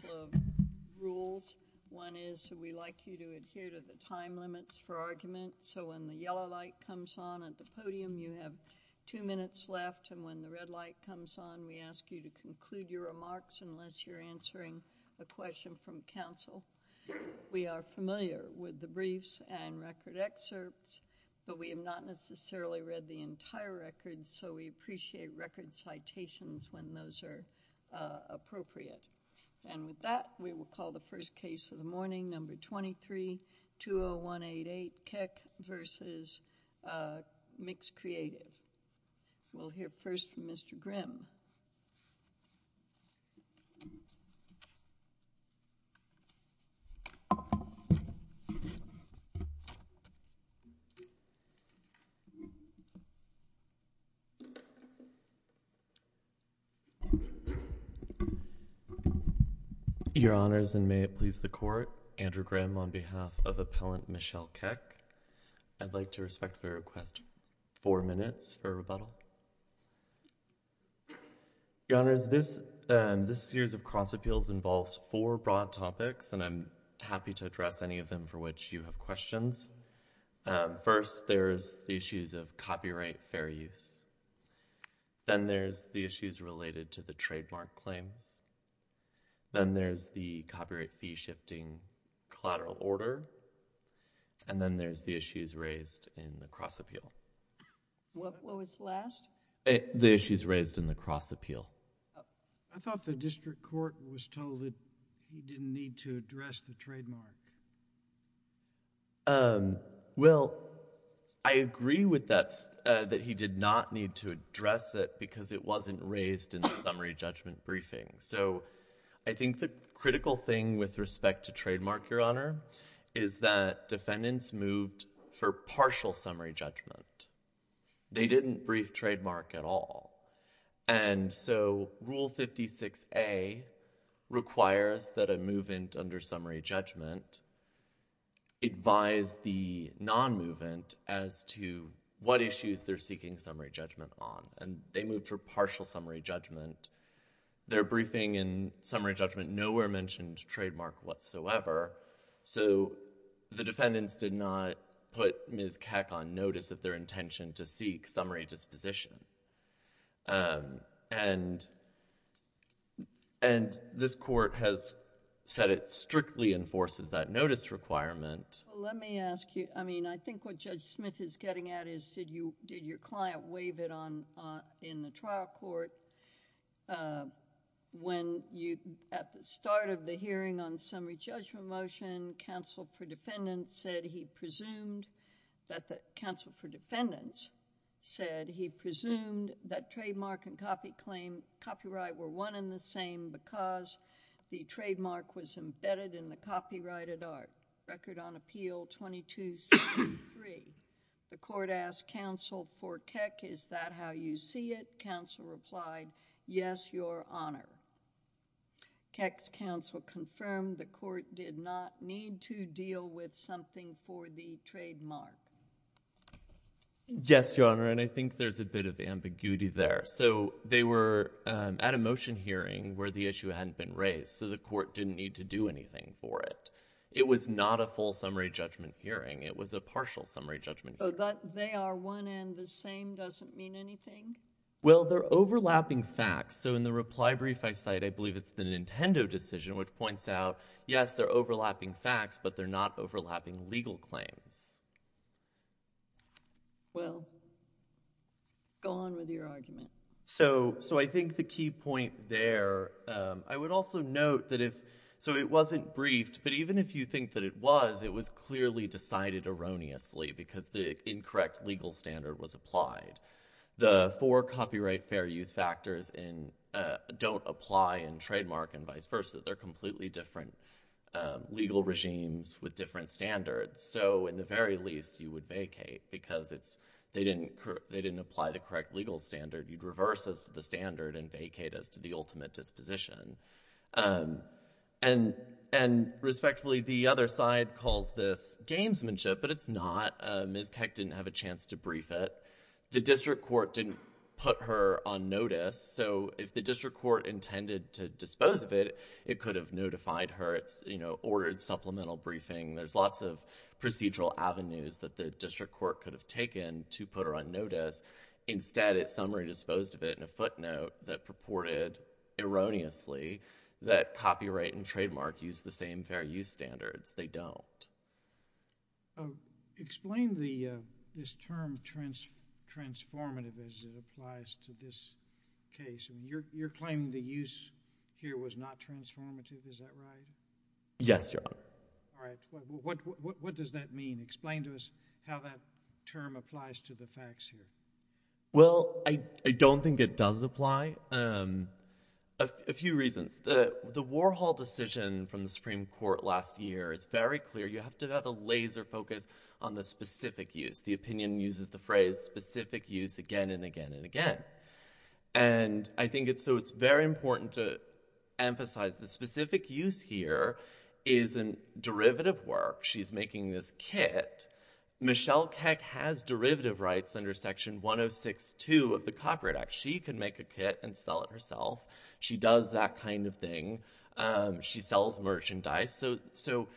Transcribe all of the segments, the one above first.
The rules, one is we like you to adhere to the time limits for argument, so when the yellow light comes on at the podium, you have two minutes left, and when the red light comes on, we ask you to conclude your remarks unless you're answering a question from counsel. We are familiar with the briefs and record excerpts, but we have not necessarily read the entire record, so we appreciate record citations when those are appropriate. And with that, we will call the first case of the morning, number 23-20188, Keck v. Mix Creative. We'll hear first from Mr. Grimm. Your Honors, and may it please the Court, Andrew Grimm on behalf of Appellant Michelle Keck. I'd like to respectfully request four minutes for rebuttal. Your Honors, this series of cross-appeals involves four broad topics, and I'm happy to address any of them for which you have questions. First there's the issues of copyright fair use. Then there's the issues related to the trademark claims. Then there's the copyright fee-shifting collateral order, and then there's the issues raised in the cross-appeal. What was the last? The issues raised in the cross-appeal. I thought the district court was told that he didn't need to address the trademark. Well, I agree with that, that he did not need to address it because it wasn't raised in the summary judgment briefing. So I think the critical thing with respect to trademark, Your Honor, is that defendants moved for partial summary judgment. They didn't brief trademark at all. And so Rule 56A requires that a move-in under summary judgment advise the non-move-in as to what issues they're seeking summary judgment on, and they moved for partial summary judgment. Their briefing in summary judgment nowhere mentioned trademark whatsoever, so the defendants did not put Ms. Keck on notice of their intention to seek summary disposition. And this court has said it strictly enforces that notice requirement. Let me ask you, I mean, I think what Judge Smith is getting at is did your client waive it in the trial court when at the start of the hearing on summary judgment motion, counsel for defendants said he presumed that trademark and copyright were one and the same because the trademark was embedded in the copyrighted art? Record on appeal 2263. The court asked counsel for Keck, is that how you see it? Counsel replied, yes, Your Honor. Keck's counsel confirmed the court did not need to deal with something for the trademark. Yes, Your Honor, and I think there's a bit of ambiguity there. So they were at a motion hearing where the issue hadn't been raised, so the court didn't need to do anything for it. It was not a full summary judgment hearing. It was a partial summary judgment hearing. They are one and the same doesn't mean anything? Well, they're overlapping facts. So in the reply brief I cite, I believe it's the Nintendo decision which points out, yes, they're overlapping facts, but they're not overlapping legal claims. Well, go on with your argument. So I think the key point there, I would also note that if, so it wasn't briefed, but even if you think that it was, it was clearly decided erroneously because the incorrect legal standard was applied. The four copyright fair use factors don't apply in trademark and vice versa. They're completely different legal regimes with different standards. So in the very least, you would vacate because they didn't apply the correct legal standard. You'd reverse the standard and vacate as to the ultimate disposition. And respectively, the other side calls this gamesmanship, but it's not. Ms. Keck didn't have a chance to brief it. The district court didn't put her on notice. So if the district court intended to dispose of it, it could have notified her. It's, you know, ordered supplemental briefing. There's lots of procedural avenues that the district court could have taken to put her on notice. Instead, it summary disposed of it in a footnote that purported erroneously that copyright and trademark use the same fair use standards. They don't. Explain this term transformative as it applies to this case. You're claiming the use here was not transformative, is that right? Yes, Your Honor. All right. What does that mean? Explain to us how that term applies to the facts here. Well, I don't think it does apply. A few reasons. The Warhol decision from the Supreme Court last year is very clear. You have to have a laser focus on the specific use. The opinion uses the phrase specific use again and again and again. And I think it's so it's very important to emphasize the specific use here is in derivative work. She's making this kit. Michelle Keck has derivative rights under Section 106.2 of the Copyright Act. She can make a kit and sell it herself. She does that kind of thing. She sells merchandise. So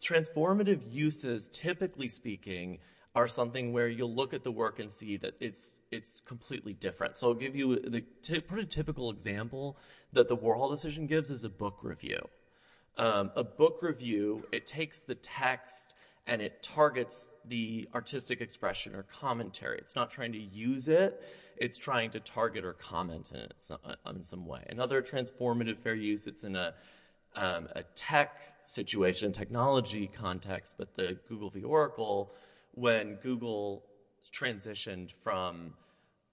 transformative uses, typically speaking, are something where you'll look at the work and see that it's completely different. So I'll give you a pretty typical example that the Warhol decision gives is a book review. A book review, it takes the text and it targets the artistic expression or commentary. It's not trying to use it. It's trying to target or comment in some way. Another transformative fair use, it's in a tech situation, technology context, but the Google v. Oracle, when Google transitioned from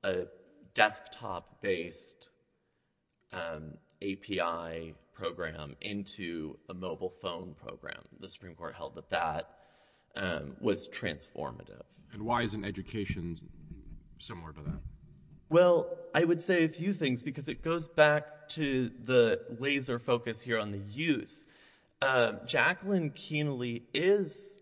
a desktop-based API program into a mobile phone program, the Supreme Court held that that was transformative. And why isn't education similar to that? Well, I would say a few things because it goes back to the laser focus here on the use. Jacqueline Kienle is,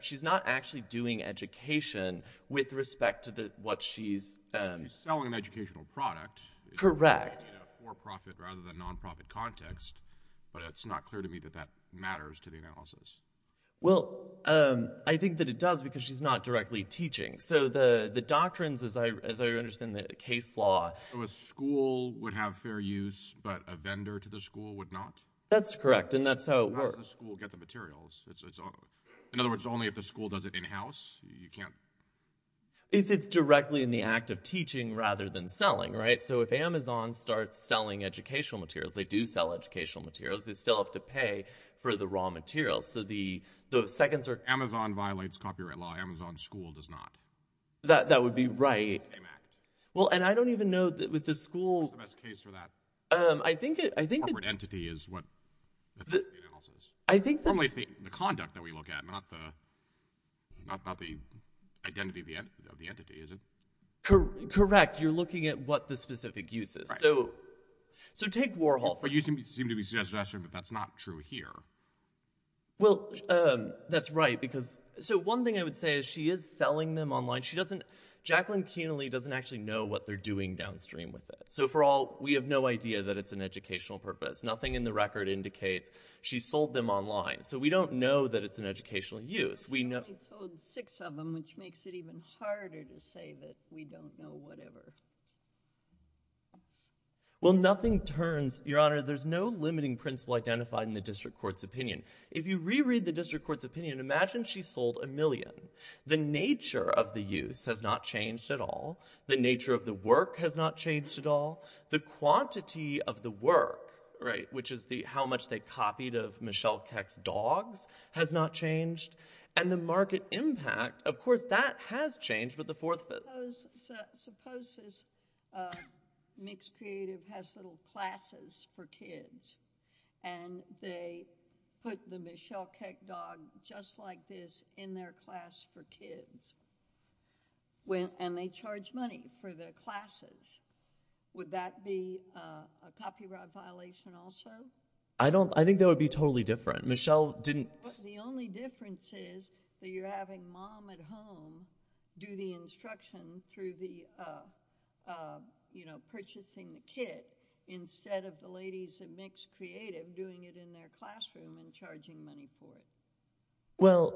she's not actually doing education with respect to what she's She's selling an educational product. Correct. In a for-profit rather than non-profit context, but it's not clear to me that that matters to the analysis. Well, I think that it does because she's not directly teaching. So the doctrines, as I understand the case law... So a school would have fair use, but a vendor to the school would not? That's correct. And that's how it works. How does the school get the materials? In other words, only if the school does it in-house, you can't... If it's directly in the act of teaching rather than selling, right? So if Amazon starts selling educational materials, they do sell educational materials, they still have to pay for the raw materials. Amazon violates copyright law, Amazon's school does not. That would be right. Well, and I don't even know that with the school... What's the best case for that? I think that... Corporate entity is what the theory of the analysis is. I think that... Normally it's the conduct that we look at, not the identity of the entity, is it? Correct. You're looking at what the specific use is. So take Warhol for example. That used to seem to be suggested last year, but that's not true here. Well, that's right because... So one thing I would say is she is selling them online. She doesn't... Jacqueline Kienle doesn't actually know what they're doing downstream with it. So for all... We have no idea that it's an educational purpose. Nothing in the record indicates she sold them online. So we don't know that it's an educational use. We know... She only sold six of them, which makes it even harder to say that we don't know whatever. Well, nothing turns... Your Honor, there's no limiting principle identified in the district court's opinion. If you reread the district court's opinion, imagine she sold a million. The nature of the use has not changed at all. The nature of the work has not changed at all. The quantity of the work, right, which is how much they copied of Michelle Keck's dogs, has not changed. And the market impact, of course, that has changed with the Fourth Amendment. Suppose this mixed creative has little classes for kids, and they put the Michelle Keck dog just like this in their class for kids, and they charge money for the classes. Would that be a copyright violation also? I don't... I think that would be totally different. Michelle didn't... The only difference is that you're having mom at home do the instruction through the, you know, purchasing the kit, instead of the ladies at mixed creative doing it in their classroom and charging money for it. Well,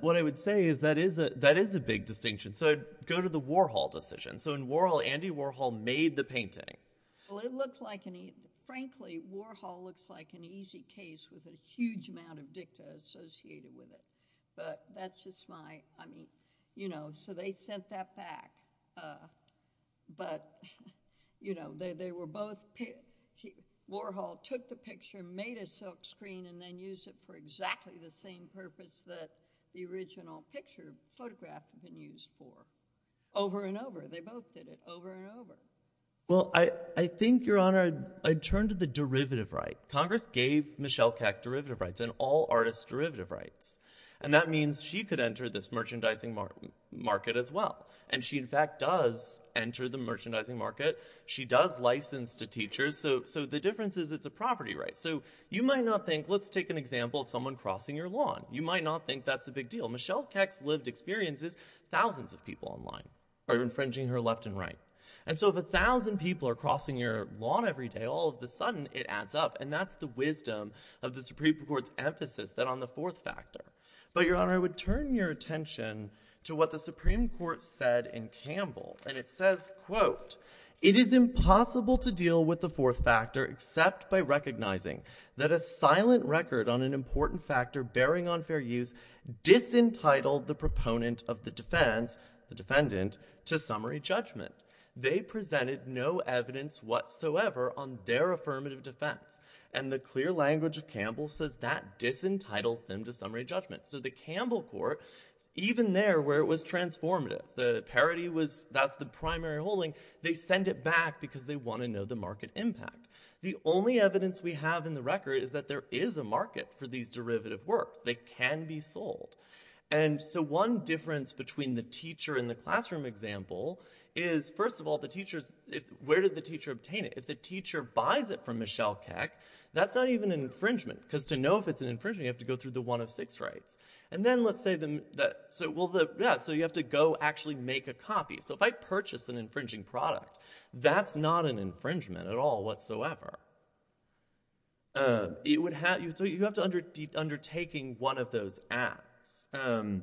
what I would say is that is a big distinction. So go to the Warhol decision. So in Warhol, Andy Warhol made the painting. Well, it looked like... Frankly, Warhol looks like an easy case with a huge amount of dicta associated with it. But that's just my... I mean, you know, so they sent that back. But, you know, they were both... Warhol took the picture, made a silkscreen, and then used it for exactly the same purpose that the original picture, photograph, had been used for. Over and over. They both did it. Over and over. Well, I think, Your Honor, I'd turn to the derivative right. Congress gave Michelle Keck derivative rights, and all artists derivative rights. And that means she could enter this merchandising market as well. And she, in fact, does enter the merchandising market. She does license to teachers. So the difference is it's a property right. So you might not think... Let's take an example of someone crossing your lawn. You might not think that's a big deal. Michelle Keck's lived experience is thousands of people online are infringing her left and right. And so if a thousand people are crossing your lawn every day, all of a sudden it adds up. And that's the wisdom of the Supreme Court's emphasis that on the fourth factor. But Your Honor, I would turn your attention to what the Supreme Court said in Campbell. And it says, quote, it is impossible to deal with the fourth factor except by recognizing that a silent record on an important factor bearing on fair use disentitled the proponent of the defense, the defendant, to summary judgment. They presented no evidence whatsoever on their affirmative defense. And the clear language of Campbell says that disentitles them to summary judgment. So the Campbell Court, even there where it was transformative, the parody was... That's the primary holding. They send it back because they want to know the market impact. The only evidence we have in the record is that there is a market for these derivative works. They can be sold. And so one difference between the teacher and the classroom example is, first of all, the teacher's... Where did the teacher obtain it? If the teacher buys it from Michelle Keck, that's not even an infringement because to know if it's an infringement, you have to go through the one of six rights. And then let's say that... So, well, the... So you have to go actually make a copy. So if I purchase an infringing product, that's not an infringement at all whatsoever. It would have... So you have to... Undertaking one of those acts. And...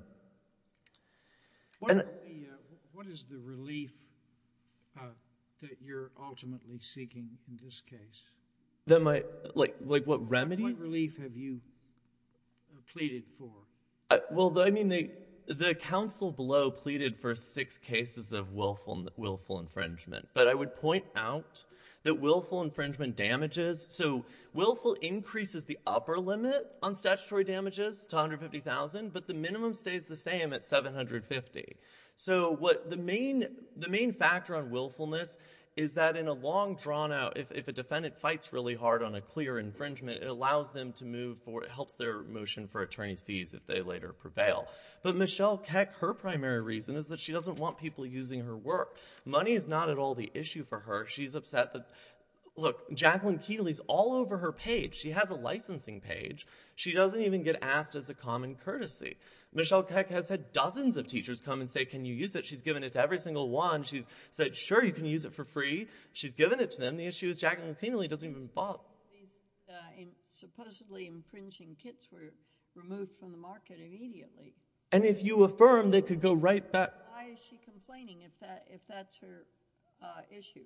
What is the relief that you're ultimately seeking in this case? That my... Like what remedy? What relief have you pleaded for? Well, I mean, the council below pleaded for six cases of willful infringement, but I would point out that willful infringement damages. So willful increases the upper limit on statutory damages to $150,000, but the minimum stays the same at $750,000. So what the main factor on willfulness is that in a long drawn out, if a defendant fights really hard on a clear infringement, it allows them to move for... It helps their motion for attorney's fees if they later prevail. But Michelle Keck, her primary reason is that she doesn't want people using her work. Money is not at all the issue for her. She's upset that... Look, Jacqueline Kienle is all over her page. She has a licensing page. She doesn't even get asked as a common courtesy. Michelle Keck has had dozens of teachers come and say, can you use it? She's given it to every single one. She's said, sure, you can use it for free. She's given it to them. The issue is Jacqueline Kienle doesn't even bother. Supposedly infringing kits were removed from the market immediately. And if you affirm they could go right back... Why is she complaining if that's her issue?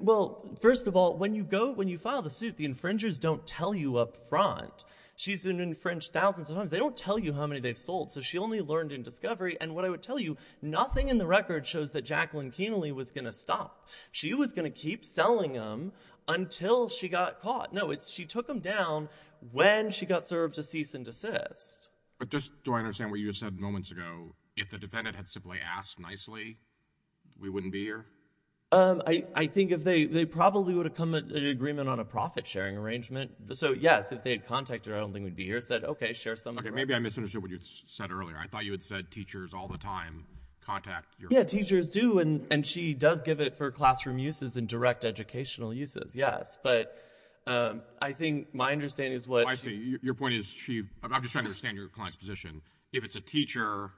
Well, first of all, when you file the suit, the infringers don't tell you up front. She's been infringed thousands of times. They don't tell you how many they've sold, so she only learned in discovery. And what I would tell you, nothing in the record shows that Jacqueline Kienle was going to stop. She was going to keep selling them until she got caught. No, it's she took them down when she got served a cease and desist. But just, do I understand what you said moments ago, if the defendant had simply asked nicely, we wouldn't be here? I think if they, they probably would have come to an agreement on a profit-sharing arrangement. So yes, if they had contacted her, I don't think we'd be here. Said, okay, share some... Okay, maybe I misunderstood what you said earlier. I thought you had said teachers all the time contact your... Yeah, teachers do. And she does give it for classroom uses and direct educational uses. Yes. But I think my understanding is what... I see. Your point is she... I'm just trying to understand your client's position. If it's a teacher,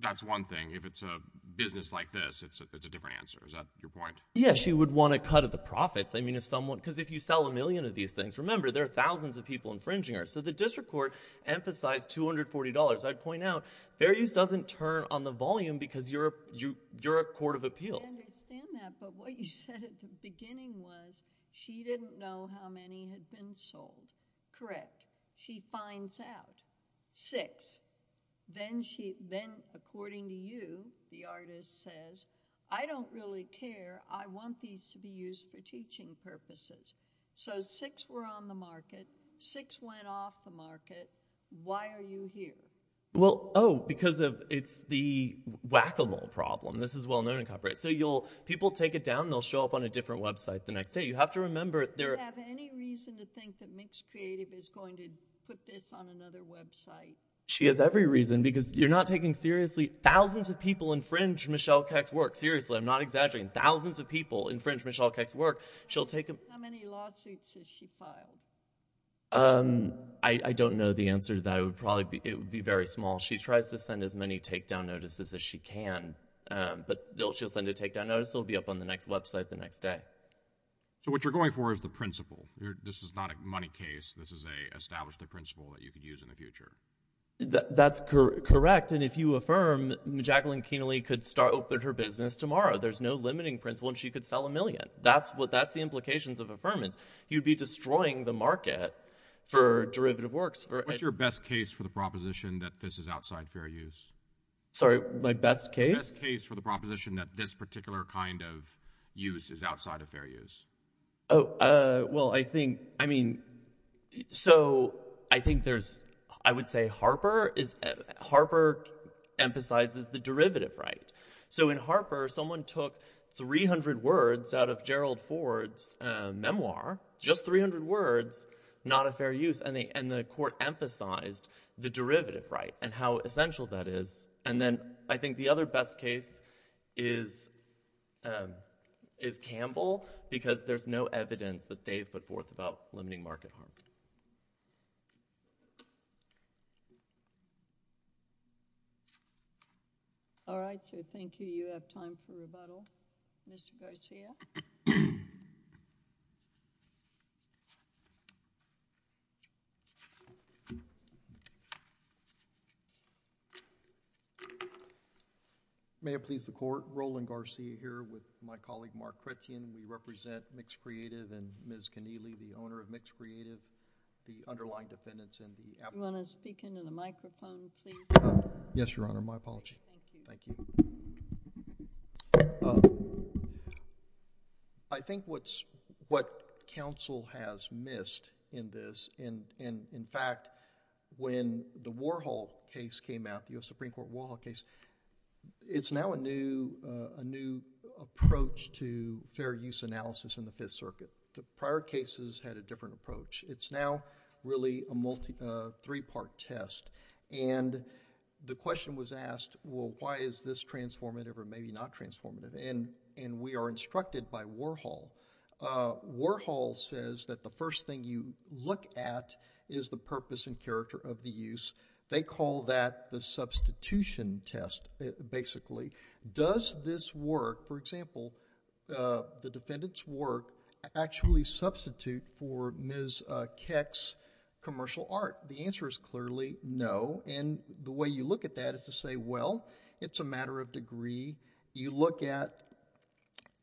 that's one thing. If it's a business like this, it's a different answer. Is that your point? Yeah. She would want to cut the profits. I mean, if someone... Because if you sell a million of these things, remember, there are thousands of people infringing her. So the district court emphasized $240. I'd point out, fair use doesn't turn on the volume because you're a court of appeals. I understand that. But what you said at the beginning was she didn't know how many had been sold. Correct. She finds out six, then according to you, the artist says, I don't really care. I want these to be used for teaching purposes. So six were on the market, six went off the market. Why are you here? Well, oh, because of it's the whack-a-mole problem. This is well known in copyright. So people take it down, they'll show up on a different website the next day. You have to remember... Do you have any reason to think that Mixed Creative is going to put this on another website? She has every reason because you're not taking seriously... Thousands of people infringe Michelle Keck's work. Seriously, I'm not exaggerating. Thousands of people infringe Michelle Keck's work. She'll take... How many lawsuits has she filed? I don't know the answer to that. It would be very small. She tries to send as many takedown notices as she can. But she'll send a takedown notice, it'll be up on the next website the next day. So what you're going for is the principle. This is not a money case. This is an established principle that you could use in the future. That's correct. And if you affirm Jacqueline Kienle could start her business tomorrow, there's no limiting principle and she could sell a million. That's the implications of affirmance. You'd be destroying the market for derivative works. What's your best case for the proposition that this is outside fair use? Sorry, my best case? My best case for the proposition that this particular kind of use is outside of fair use. Oh, well, I think, I mean, so I think there's, I would say Harper is, Harper emphasizes the derivative right. So in Harper, someone took 300 words out of Gerald Ford's memoir, just 300 words, not a fair use. And the court emphasized the derivative right and how essential that is. And then I think the other best case is Campbell, because there's no evidence that they've put forth about limiting market harm. All right, so thank you. You have time for rebuttal, Mr. Garcia. May it please the Court, Roland Garcia here with my colleague, Mark Kretien, we represent Mixed Creative and Ms. Kienle, the owner of Mixed Creative, the underlying defendants in the application. Do you want to speak into the microphone, please? Yes, Your Honor. My apologies. Thank you. Thank you. I think what's, what counsel has missed in this, and in fact, when the Warhol case came out, the U.S. Supreme Court Warhol case, it's now a new, a new approach to fair use analysis in the Fifth Circuit. The prior cases had a different approach. It's now really a multi, a three-part test. And the question was asked, well, why is this transformative or maybe not transformative? And we are instructed by Warhol. Warhol says that the first thing you look at is the purpose and character of the use. They call that the substitution test, basically. Does this work, for example, the defendant's work actually substitute for Ms. Keck's commercial art? The answer is clearly no. And the way you look at that is to say, well, it's a matter of degree. You look at,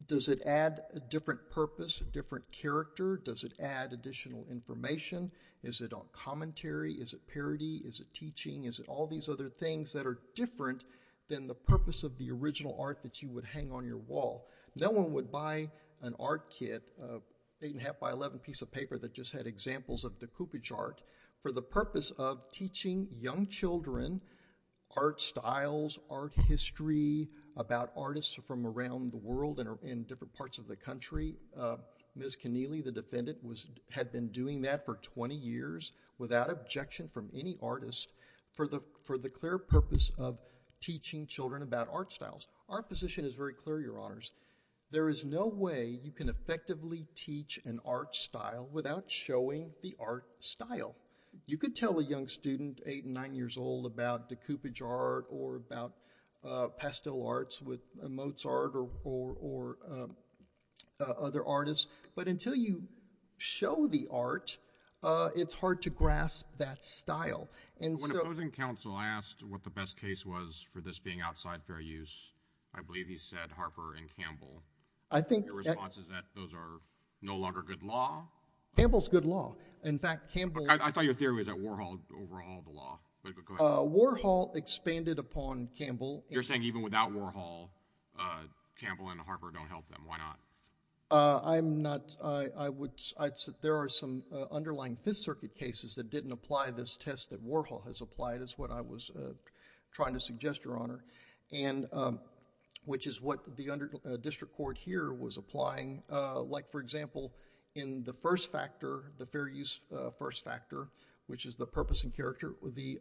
does it add a different purpose, a different character? Does it add additional information? Is it commentary? Is it parody? Is it teaching? Is it all these other things that are different than the purpose of the original art that you would hang on your wall? No one would buy an art kit, an eight and a half by 11 piece of paper that just had examples of decoupage art for the purpose of teaching young children art styles, art history, about artists from around the world and different parts of the country. Ms. Keneally, the defendant, had been doing that for 20 years without objection from any artist for the clear purpose of teaching children about art styles. Our position is very clear, Your Honors. There is no way you can effectively teach an art style without showing the art style. You could tell a young student, eight, nine years old, about decoupage art or about pastel arts with Mozart or other artists, but until you show the art, it's hard to grasp that When opposing counsel asked what the best case was for this being outside fair use, I believe he said Harper and Campbell. I think the response is that those are no longer good law. Campbell's good law. In fact, Campbell I thought your theory was that Warhol overhauled the law. Warhol expanded upon Campbell You're saying even without Warhol, Campbell and Harper don't help them. Why not? I'm not, I would, I'd say there are some underlying Fifth Circuit cases that didn't apply this test that Warhol has applied is what I was trying to suggest, Your Honor. And, which is what the district court here was applying. Like for example, in the first factor, the fair use first factor, which is the purpose and character, the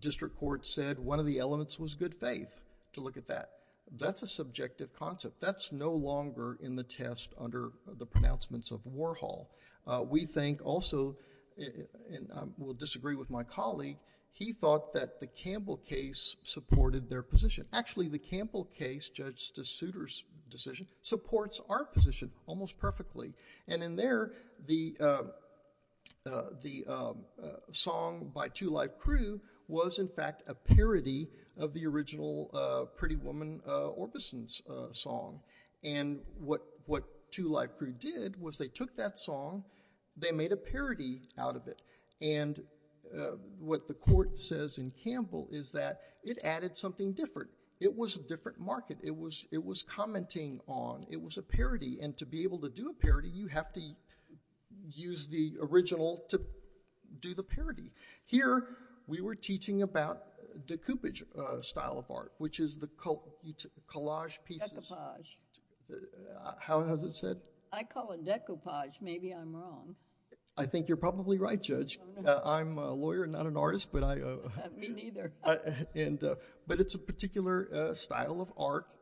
district court said one of the elements was good faith to look at that. That's a subjective concept. That's no longer in the test under the pronouncements of Warhol. We think also, and I will disagree with my colleague. He thought that the Campbell case supported their position. Actually the Campbell case, Judge DeSouter's decision, supports our position almost perfectly. And in there, the song by Two Live Crew was in fact a parody of the original Pretty Woman Orbison's song. And what Two Live Crew did was they took that song, they made a parody out of it. And what the court says in Campbell is that it added something different. It was a different market. It was, it was commenting on, it was a parody. And to be able to do a parody, you have to use the original to do the parody. Here we were teaching about decoupage style of art, which is the collage pieces... How is it said? I call it decapage. Maybe I'm wrong. I think you're probably right, Judge. I'm a lawyer, not an artist, but I... Me neither. And, but it's a particular style of art.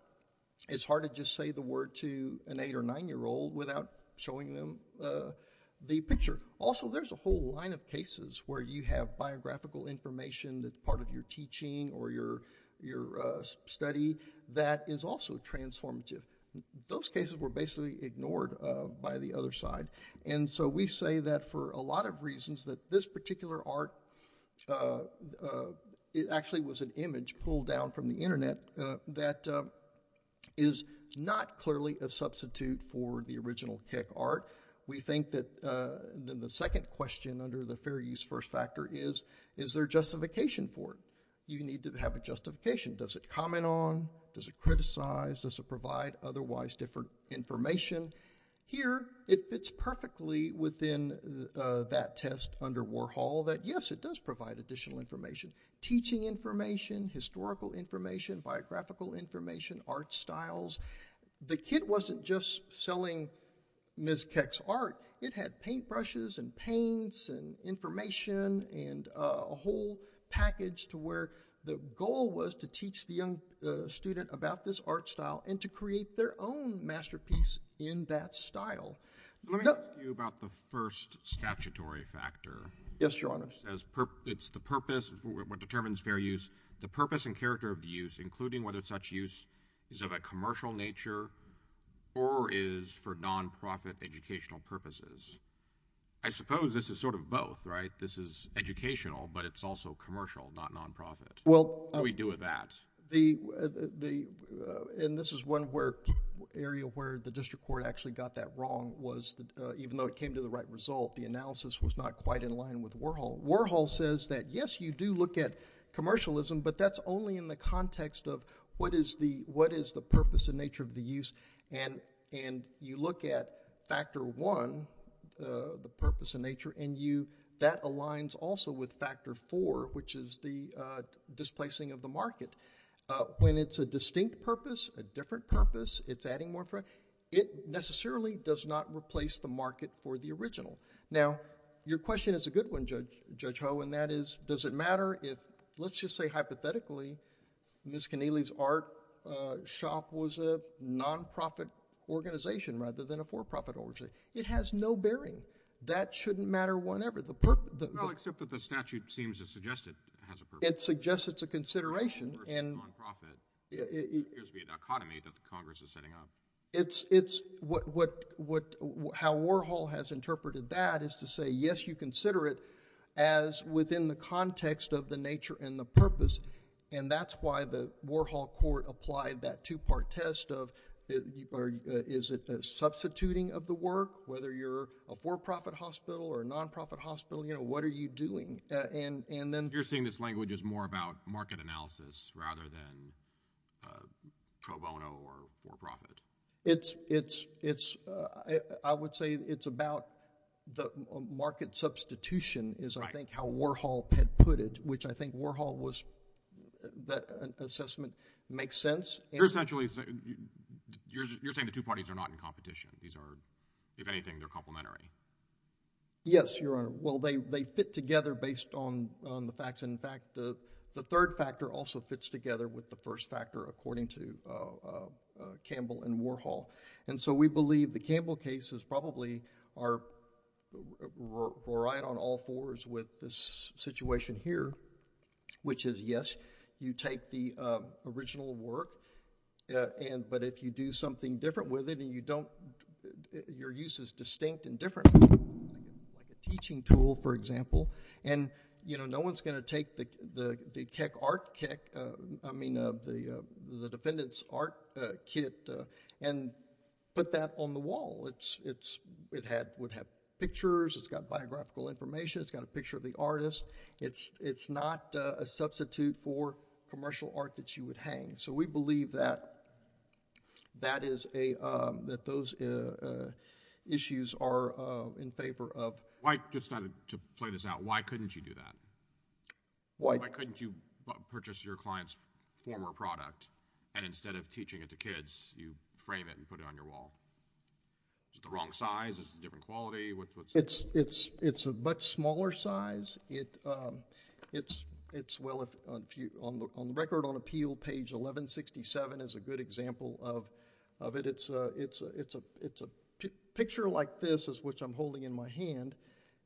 It's hard to just say the word to an eight or nine-year-old without showing them the picture. Also, there's a whole line of cases where you have biographical information that's part of your teaching or your study that is also transformative. Those cases were basically ignored by the other side. And so, we say that for a lot of reasons, that this particular art, it actually was an image pulled down from the internet that is not clearly a substitute for the original Keck art. We think that the second question under the fair use first factor is, is there justification for it? You need to have a justification. Does it comment on? Does it criticize? Does it provide otherwise different information? Here, it fits perfectly within that test under Warhol that, yes, it does provide additional information. Teaching information, historical information, biographical information, art styles. The kit wasn't just selling Ms. Keck's art. It had paintbrushes and paints and information and a whole package to where the goal was to teach the young student about this art style and to create their own masterpiece in that style. Let me ask you about the first statutory factor. Yes, Your Honor. It's the purpose, what determines fair use. The purpose and character of the use, including whether such use is of a commercial nature or is for non-profit educational purposes. I suppose this is sort of both, right? This is educational, but it's also commercial, not non-profit. What do we do with that? This is one area where the district court actually got that wrong, even though it came to the right result. The analysis was not quite in line with Warhol. Warhol says that, yes, you do look at commercialism, but that's only in the context of what is the purpose and nature of the use. You look at factor one, the purpose and nature, and that aligns also with factor four, which is the displacing of the market. When it's a distinct purpose, a different purpose, it's adding more, it necessarily does not replace the market for the original. Now, your question is a good one, Judge Ho, and that is, does it matter if, let's just say hypothetically, Ms. Keneally's art shop was a non-profit organization rather than a for-profit organization. It has no bearing. That shouldn't matter one ever. Well, except that the statute seems to suggest it has a purpose. It suggests it's a consideration. It's a non-profit. It appears to be a dichotomy that the Congress is setting up. How Warhol has interpreted that is to say, yes, you consider it as within the context of the nature and the purpose, and that's why the Warhol court applied that two-part test of, is it a substituting of the work, whether you're a for-profit hospital or a non-profit hospital, you know, what are you doing? And then... You're saying this language is more about market analysis rather than pro bono or for-profit. I would say it's about the market substitution is, I think, how Warhol had put it, which I think Warhol was, that assessment makes sense. You're essentially saying, you're saying the two parties are not in competition. These are, if anything, they're complementary. Yes, Your Honor. Well, they fit together based on the facts. In fact, the third factor also fits together with the first factor according to Campbell and Warhol. And so we believe the Campbell case is probably right on all fours with this situation here, which is, yes, you take the original work, but if you do something different with it and you don't, your use is distinct and different, like a teaching tool, for example, and, you know, no one's going to take the Keck art, Keck, I mean, the defendant's art kit and put that on the wall. It would have pictures, it's got biographical information, it's got a picture of the artist. It's not a substitute for commercial art that you would hang. So we believe that that is a, that those issues are in favor of... Why, just to play this out, why couldn't you do that? Why couldn't you purchase your client's former product and instead of teaching it to kids, you frame it and put it on your wall? Is it the wrong size? Is it a different quality? It's a much smaller size. It's, well, on the Record on Appeal, page 1167 is a good example of it. It's a picture like this, which I'm holding in my hand,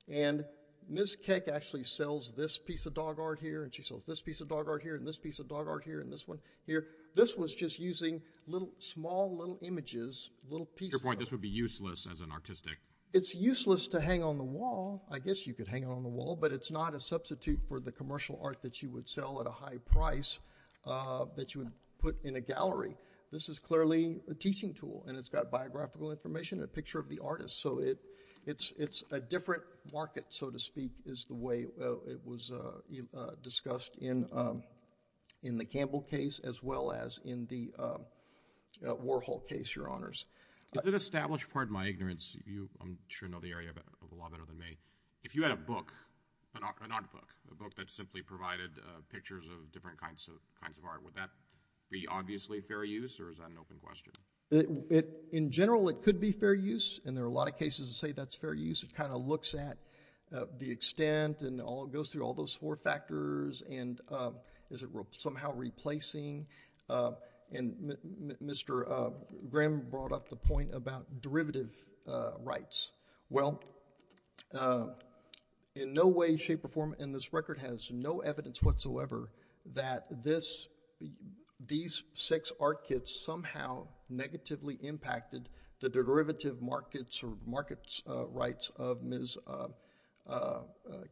and Ms. Keck actually sells this piece of dog art here, and she sells this piece of dog art here, and this piece of dog art here, and this one here. This was just using little, small little images, little pieces. Your point, this would be useless as an artistic... It's useless to hang on the wall. I guess you could hang it on the wall, but it's not a substitute for the commercial art that you would sell at a high price that you would put in a gallery. This is clearly a teaching tool, and it's got biographical information, a picture of the artist. So it's a different market, so to speak, is the way it was discussed in the Campbell case as well as in the Warhol case, Your Honors. Is it established... Pardon my ignorance. You, I'm sure, know the area a lot better than me. If you had a book, an art book, a book that simply provided pictures of different kinds of art, would that be, obviously, fair use, or is that an open question? In general, it could be fair use, and there are a lot of cases that say that's fair use. It kind of looks at the extent, and it goes through all those four factors, and is it somehow replacing? Mr. Graham brought up the point about derivative rights. Well, in no way, shape, or form in this record has no evidence whatsoever that these six art kits somehow negatively impacted the derivative markets or market rights of Ms.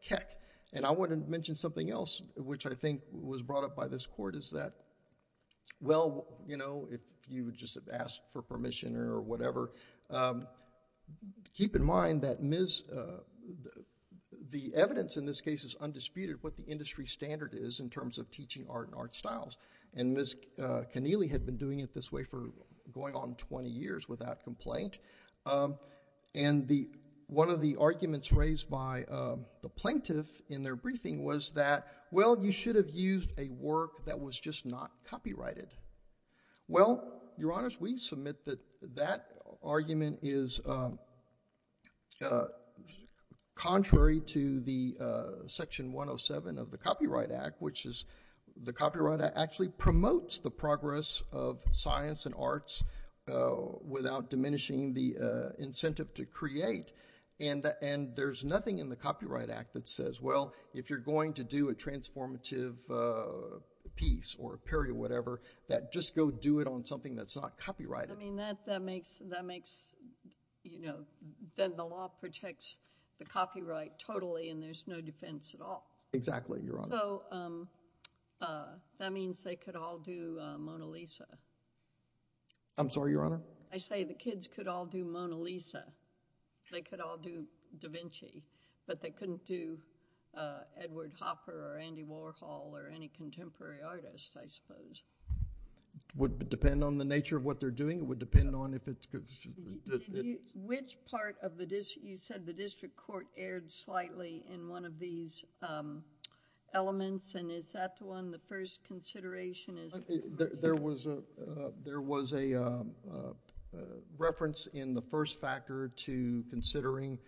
Keck. And I want to mention something else, which I think was brought up by this Court, is that well, you know, if you would just have asked for permission or whatever, keep in mind that Ms.... the evidence in this case is undisputed of what the industry standard is in terms of teaching art and art styles, and Ms. Keneally had been doing it this way for going on twenty years without complaint. And one of the arguments raised by the plaintiff in their briefing was that, well, you should have used a work that was just not copyrighted. Well, Your Honors, we submit that that argument is contrary to the Section 107 of the Copyright Act, which is the Copyright Act actually promotes the progress of science and arts without diminishing the incentive to create, and there's nothing in the Copyright Act that says, well, if you're going to do a transformative piece or a period or whatever, that just go do it on something that's not copyrighted. I mean, that makes, you know, then the law protects the copyright totally and there's no defense at all. Exactly, Your Honor. So, that means they could all do Mona Lisa. I'm sorry, Your Honor? I say the kids could all do Mona Lisa. They could all do Da Vinci, but they couldn't do Edward Hopper or Andy Warhol or any contemporary artist, I suppose. Would depend on the nature of what they're doing? It would depend on if it's... Which part of the, you said the district court erred slightly in one of these elements, and is that the one, the first consideration is... There was a reference in the first factor to considering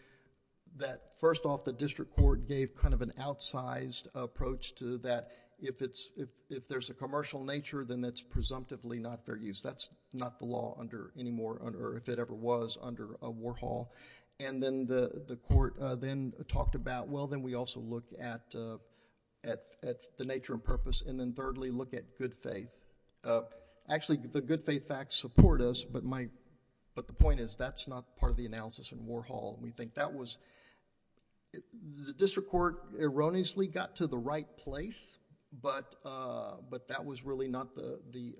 that, first off, the district court gave kind of an outsized approach to that. If there's a commercial nature, then that's presumptively not fair use. That's not the law anymore, or if it ever was, under Warhol, and then the court then talked about, well, then we also look at the nature and purpose, and then thirdly, look at good faith. Actually, the good faith facts support us, but the point is, that's not part of the analysis in Warhol. We think that was... The district court erroneously got to the right place, but that was really not the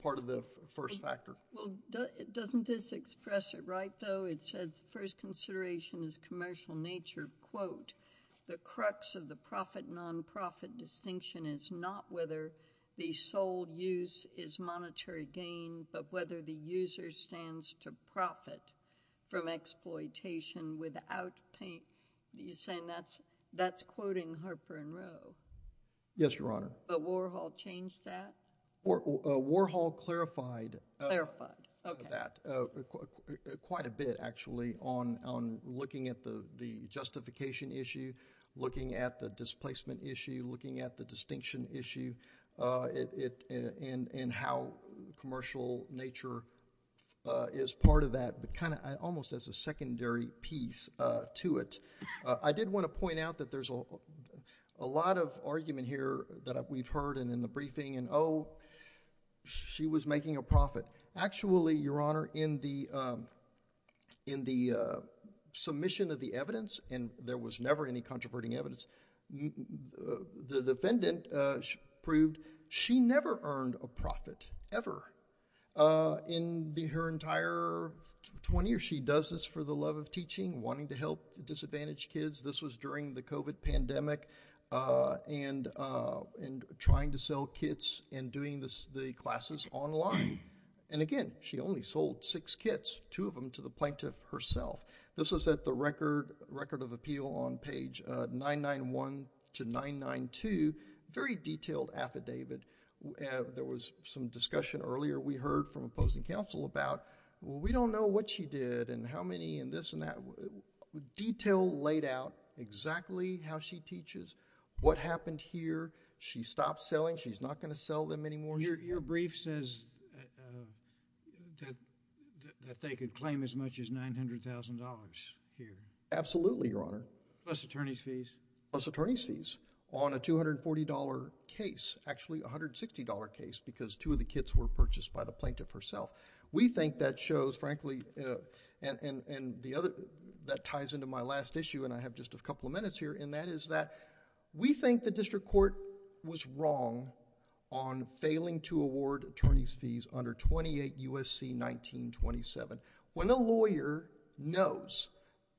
part of the first factor. Well, doesn't this express it right, though? It says the first consideration is commercial nature, quote, the crux of the profit-nonprofit distinction is not whether the sole use is monetary gain, but whether the user stands to profit from exploitation without... You're saying that's quoting Harper and Rowe? Yes, Your Honor. But Warhol changed that? Warhol clarified... Clarified, okay.... that quite a bit, actually, on looking at the justification issue, looking at the distinction issue, and how commercial nature is part of that, but kind of almost as a secondary piece to it. I did want to point out that there's a lot of argument here that we've heard, and in the briefing, and, oh, she was making a profit. Actually, Your Honor, in the submission of the evidence, and there was never any controverting evidence, the defendant proved she never earned a profit, ever, in her entire 20 years. She does this for the love of teaching, wanting to help disadvantaged kids. This was during the COVID pandemic, and trying to sell kits, and doing the classes online, and again, she only sold six kits, two of them, to the plaintiff herself. This was at the Record of Appeal on page 991 to 992, a very detailed affidavit. There was some discussion earlier we heard from opposing counsel about, well, we don't know what she did, and how many, and this and that. Detail laid out exactly how she teaches, what happened here. She stopped selling. She's not going to sell them anymore. Your brief says that they could claim as much as $900,000 here. Absolutely, Your Honor. Plus attorney's fees? Plus attorney's fees on a $240 case, actually a $160 case because two of the kits were purchased by the plaintiff herself. We think that shows, frankly, and that ties into my last issue, and I have just a couple of minutes here, and that is that we think the district court was wrong on failing to award attorney's fees under 28 U.S.C. 1927. When a lawyer knows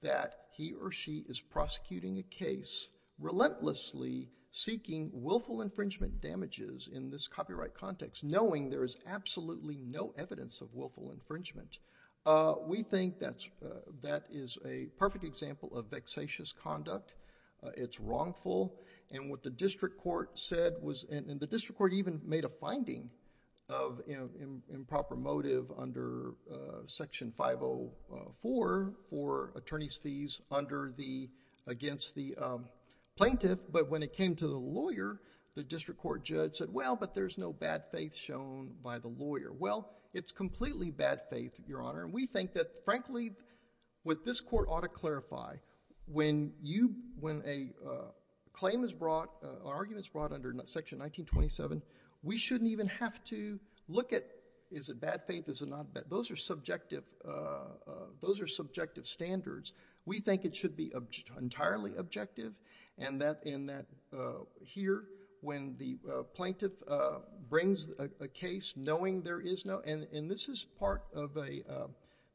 that he or she is prosecuting a case relentlessly seeking willful infringement damages in this copyright context, knowing there is absolutely no evidence of willful misconduct, it's wrongful, and what the district court said was, and the district court even made a finding of improper motive under Section 504 for attorney's fees against the plaintiff, but when it came to the lawyer, the district court judge said, well, but there's no bad faith shown by the lawyer. Well, it's completely bad faith, Your Honor, and we think that, frankly, what this court ought to clarify, when a claim is brought, an argument is brought under Section 1927, we shouldn't even have to look at is it bad faith, is it not. Those are subjective standards. We think it should be entirely objective and that here when the plaintiff brings a case knowing there is no, and this is part of a,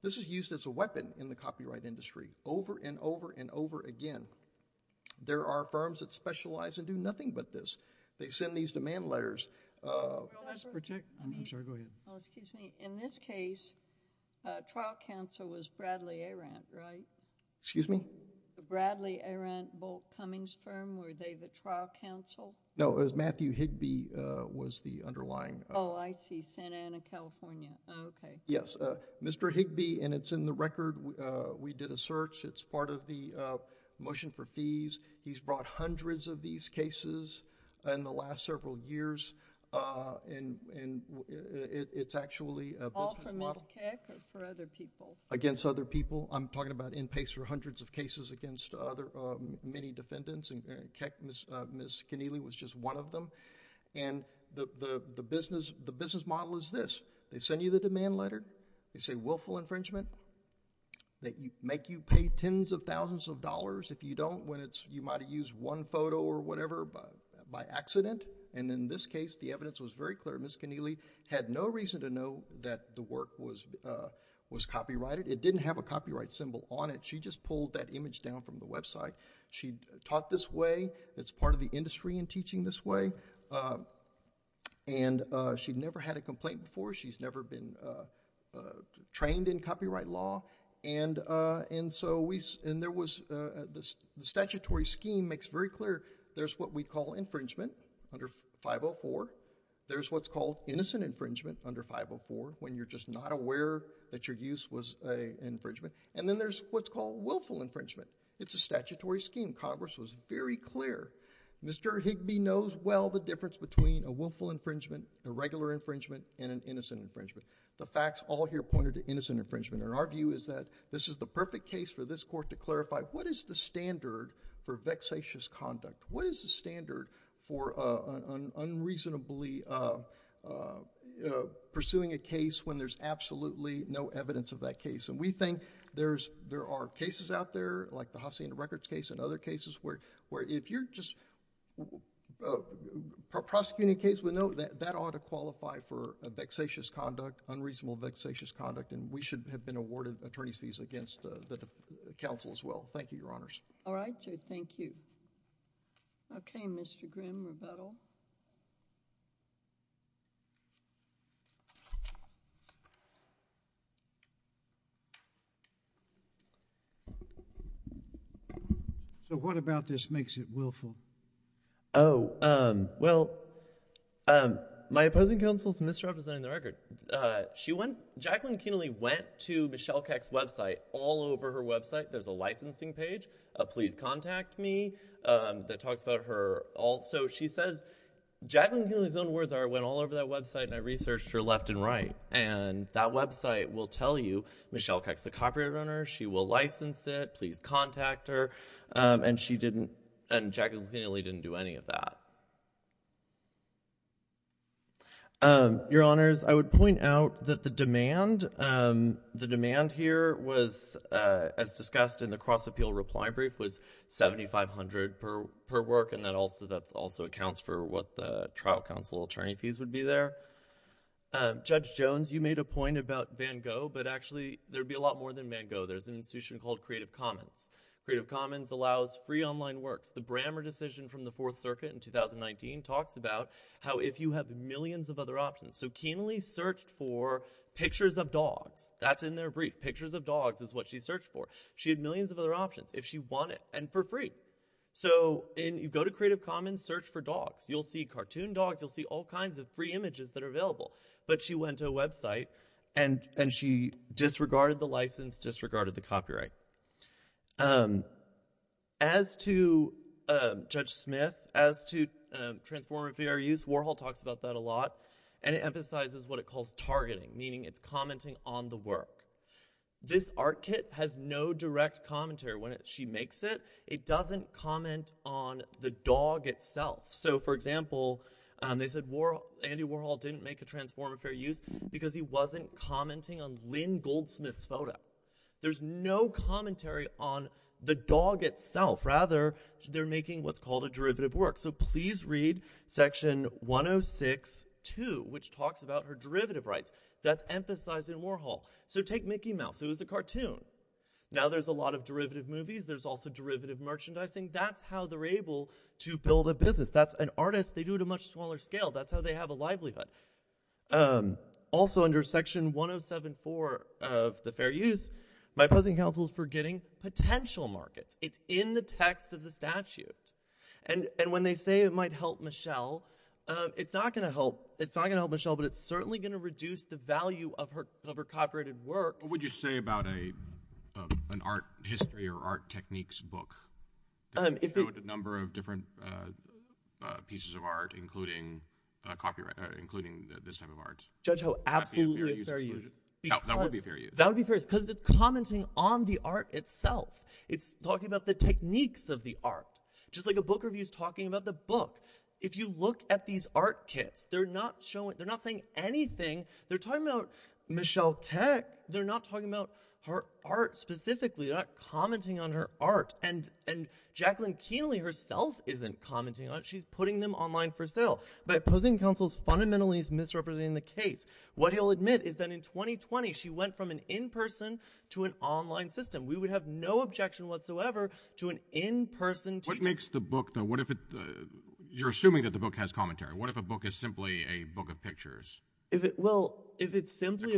this is used as a weapon in the copyright industry over and over and over again. There are firms that specialize and do nothing but this. They send these demand letters. I'm sorry, go ahead. In this case, trial counsel was Bradley A. Rant, right? Excuse me? Bradley A. Rant, Bolt Cummings firm, were they the trial counsel? No, it was Matthew Higbee was the underlying. Oh, I see. Santa Ana, California. Okay. Yes. Mr. Higbee, and it's in the record. We did a search. It's part of the motion for fees. He's brought hundreds of these cases in the last several years and it's actually... All from Ms. Keck or for other people? Against other people. I'm talking about in pace for hundreds of cases against many defendants and Ms. Keneally was just one of them. And the business model is this, they send you the demand letter, they say willful infringement, that make you pay tens of thousands of dollars. If you don't, you might have used one photo or whatever by accident and in this case, the evidence was very clear. Ms. Keneally had no reason to know that the work was copyrighted. It didn't have a copyright symbol on it. She just pulled that image down from the website. She taught this way, it's part of the industry in teaching this way, and she'd never had a complaint before. She's never been trained in copyright law and so we... and there was... the statutory scheme makes very clear there's what we call infringement under 504, there's what's called innocent infringement under 504 when you're just not aware that your use was an infringement, and then there's what's called willful infringement. It's a statutory scheme. Congress was very clear. Mr. Higbee knows well the difference between a willful infringement, a regular infringement and an innocent infringement. The facts all here pointed to innocent infringement and our view is that this is the perfect case for this court to clarify what is the standard for vexatious conduct? What is the standard for unreasonably pursuing a case when there's absolutely no evidence of that case? We think there are cases out there like the Hacienda Records case and other cases where if you're just prosecuting a case with no... that ought to qualify for a vexatious conduct, unreasonable vexatious conduct, and we should have been awarded attorney's fees against the counsel as well. Thank you, Your Honors. All right, sir. Thank you. Okay, Mr. Grimm-Rebuttal. So, what about this makes it willful? Oh, well, my opposing counsel is misrepresenting the record. She went... Jacqueline Kienle went to Michelle Keck's website. All over her website, there's a licensing page, a please contact me, that talks about her... So, she says, Jacqueline Kienle's own words are, I went all over that website and I researched her left and right, and that website will tell you Michelle Keck's the copyright owner, she will license it, please contact her, and she didn't... and Jacqueline Kienle didn't do any of that. Your Honors, I would point out that the demand... the demand here was, as discussed in the cross-appeal reply brief, was $7,500 per work, and that also accounts for what the trial counsel attorney fees would be there. Judge Jones, you made a point about Van Gogh, but actually, there'd be a lot more than Van There's an institution called Creative Commons. Creative Commons allows free online works. The Brammer decision from the Fourth Circuit in 2019 talks about how if you have millions of other options. So, Kienle searched for pictures of dogs. That's in their brief. Pictures of dogs is what she searched for. She had millions of other options. If she wanted... and for free. So, you go to Creative Commons, search for dogs. You'll see cartoon dogs, you'll see all kinds of free images that are available. But she went to a website and she disregarded the license, disregarded the copyright. As to Judge Smith, as to transformative VR use, Warhol talks about that a lot, and it emphasizes what it calls targeting, meaning it's commenting on the work. This art kit has no direct commentary. When she makes it, it doesn't comment on the dog itself. So, for example, they said Andy Warhol didn't make a transformative VR use because he wasn't commenting on Lynn Goldsmith's photo. There's no commentary on the dog itself. Rather, they're making what's called a derivative work. So please read section 106.2, which talks about her derivative rights. That's emphasized in Warhol. So take Mickey Mouse. It was a cartoon. Now, there's a lot of derivative movies. There's also derivative merchandising. That's how they're able to build a business. That's an artist. They do it at a much smaller scale. That's how they have a livelihood. Also under section 107.4 of the Fair Use, my opposing counsel is forgetting potential markets. It's in the text of the statute. And when they say it might help Michelle, it's not going to help Michelle, but it's certainly going to reduce the value of her copyrighted work. What would you say about an art history or art techniques book that showed a number of different pieces of art, including this type of art? Judge Ho, absolutely a Fair Use. That would be a Fair Use. That would be a Fair Use because it's commenting on the art itself. It's talking about the techniques of the art, just like a book review is talking about the book. If you look at these art kits, they're not saying anything. They're talking about Michelle Keck. They're not talking about her art specifically, not commenting on her art. And Jacqueline Kienle herself isn't commenting on it. She's putting them online for sale. My opposing counsel is fundamentally misrepresenting the case. What he'll admit is that in 2020, she went from an in-person to an online system. We would have no objection whatsoever to an in-person teaching. What makes the book, though? You're assuming that the book has commentary. What if a book is simply a book of pictures? A collection. Well, if it's simply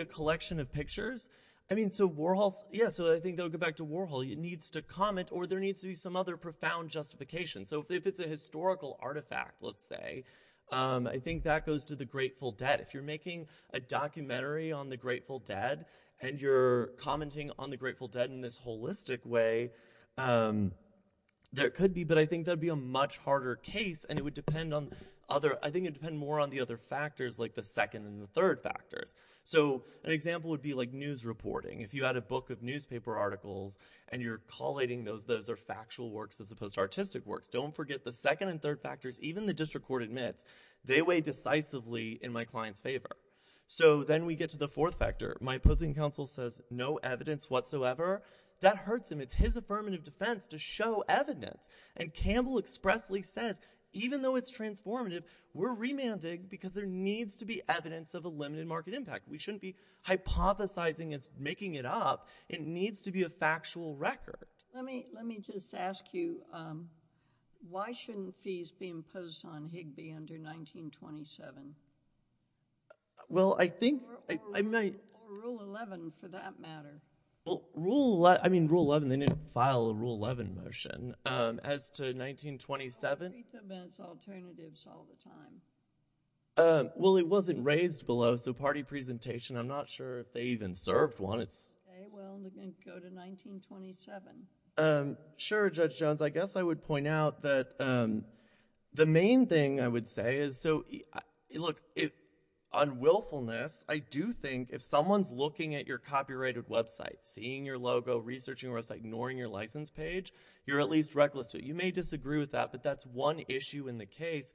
a collection of pictures, I think they'll go back to Warhol. It needs to comment or there needs to be some other profound justification. So if it's a historical artifact, let's say, I think that goes to The Grateful Dead. If you're making a documentary on The Grateful Dead and you're commenting on The Grateful Dead in a post-artistic way, there could be, but I think that would be a much harder case and it would depend on other, I think it would depend more on the other factors like the second and the third factors. So an example would be like news reporting. If you had a book of newspaper articles and you're collating those, those are factual works as opposed to artistic works. Don't forget the second and third factors, even the district court admits, they weigh decisively in my client's favor. So then we get to the fourth factor. My opposing counsel says no evidence whatsoever. That hurts him. It's his affirmative defense to show evidence. And Campbell expressly says, even though it's transformative, we're remanding because there needs to be evidence of a limited market impact. We shouldn't be hypothesizing it's making it up. It needs to be a factual record. Let me, let me just ask you, um, why shouldn't fees be imposed on Higbee under 1927? Well I think, I, I might. Or Rule 11 for that matter. Well, Rule 11, I mean Rule 11, they didn't file a Rule 11 motion, um, as to 1927. But we meet them as alternatives all the time. Um, well it wasn't raised below, so party presentation, I'm not sure if they even served one, it's. Okay, well, we're going to go to 1927. Um, sure Judge Jones. I guess I would point out that, um, the main thing I would say is, so, look, on willfulness, I do think if someone's looking at your copyrighted website, seeing your logo, researching your website, ignoring your license page, you're at least reckless. You may disagree with that, but that's one issue in the case.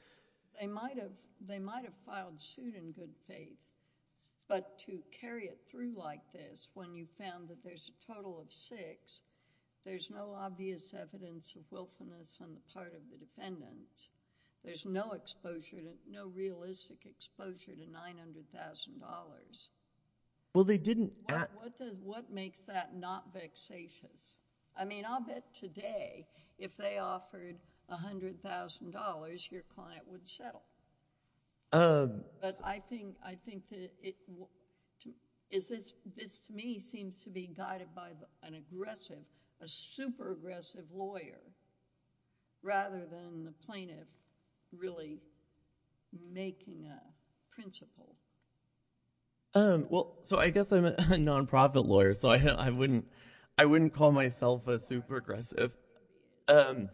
They might have, they might have filed suit in good faith. But to carry it through like this, when you found that there's a total of six, there's no obvious evidence of willfulness on the part of the defendants. There's no exposure to, no realistic exposure to $900,000. Well they didn't... What makes that not vexatious? I mean, I'll bet today, if they offered $100,000, your client would settle. But I think, I think that it, is this, this to me seems to be guided by an aggressive, a super aggressive lawyer, rather than the plaintiff really making a principle. Um, well, so I guess I'm a non-profit lawyer, so I wouldn't, I wouldn't call myself a super aggressive. Um,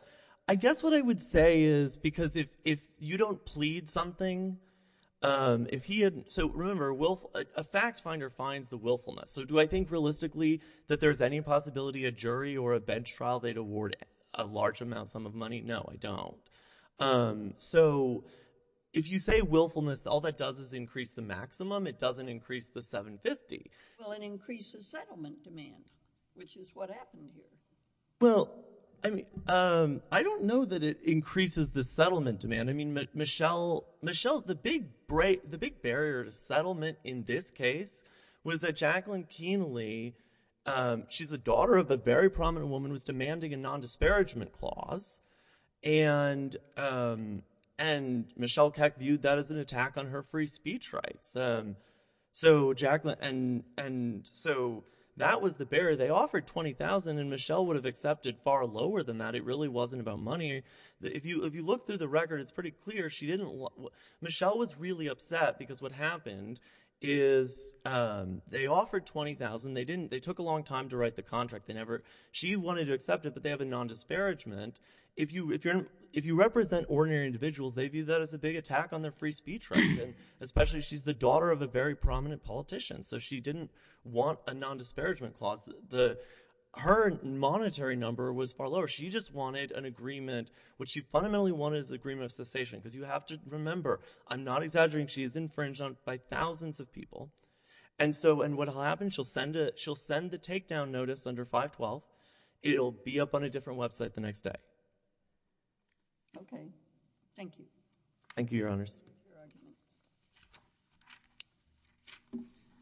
I guess what I would say is, because if, if you don't plead something, um, if he hadn't, so remember, a fact finder finds the willfulness. So do I think realistically that there's any possibility a jury or a bench trial, they'd award a large amount, sum of money? No, I don't. Um, so if you say willfulness, all that does is increase the maximum, it doesn't increase the $750,000. Well, it increases settlement demand, which is what happened here. Well, I mean, um, I don't know that it increases the settlement demand. I mean, Michele, Michele, the big break, the big barrier to settlement in this case was that Jacqueline Kienle, um, she's the daughter of a very prominent woman who was demanding a non-disparagement clause, and, um, and Michele Keck viewed that as an attack on her free speech rights. Um, so Jacqueline, and, and so that was the barrier. They offered $20,000 and Michele would have accepted far lower than that, it really wasn't about money. If you, if you look through the record, it's pretty clear she didn't, Michele was really upset because what happened is, um, they offered $20,000, they didn't, they took a long time to write the contract, they never, she wanted to accept it, but they have a non-disparagement. If you, if you're, if you represent ordinary individuals, they view that as a big attack on their free speech rights, and especially she's the daughter of a very prominent politician, so she didn't want a non-disparagement clause, the, her monetary number was far lower. She just wanted an agreement, what she fundamentally wanted was an agreement of cessation, because you have to remember, I'm not exaggerating, she is infringed on by thousands of people, and so, and what'll happen, she'll send a, she'll send the takedown notice under 512, it'll be up on a different website the next day. Okay. Thank you. Thank you, Your Honors.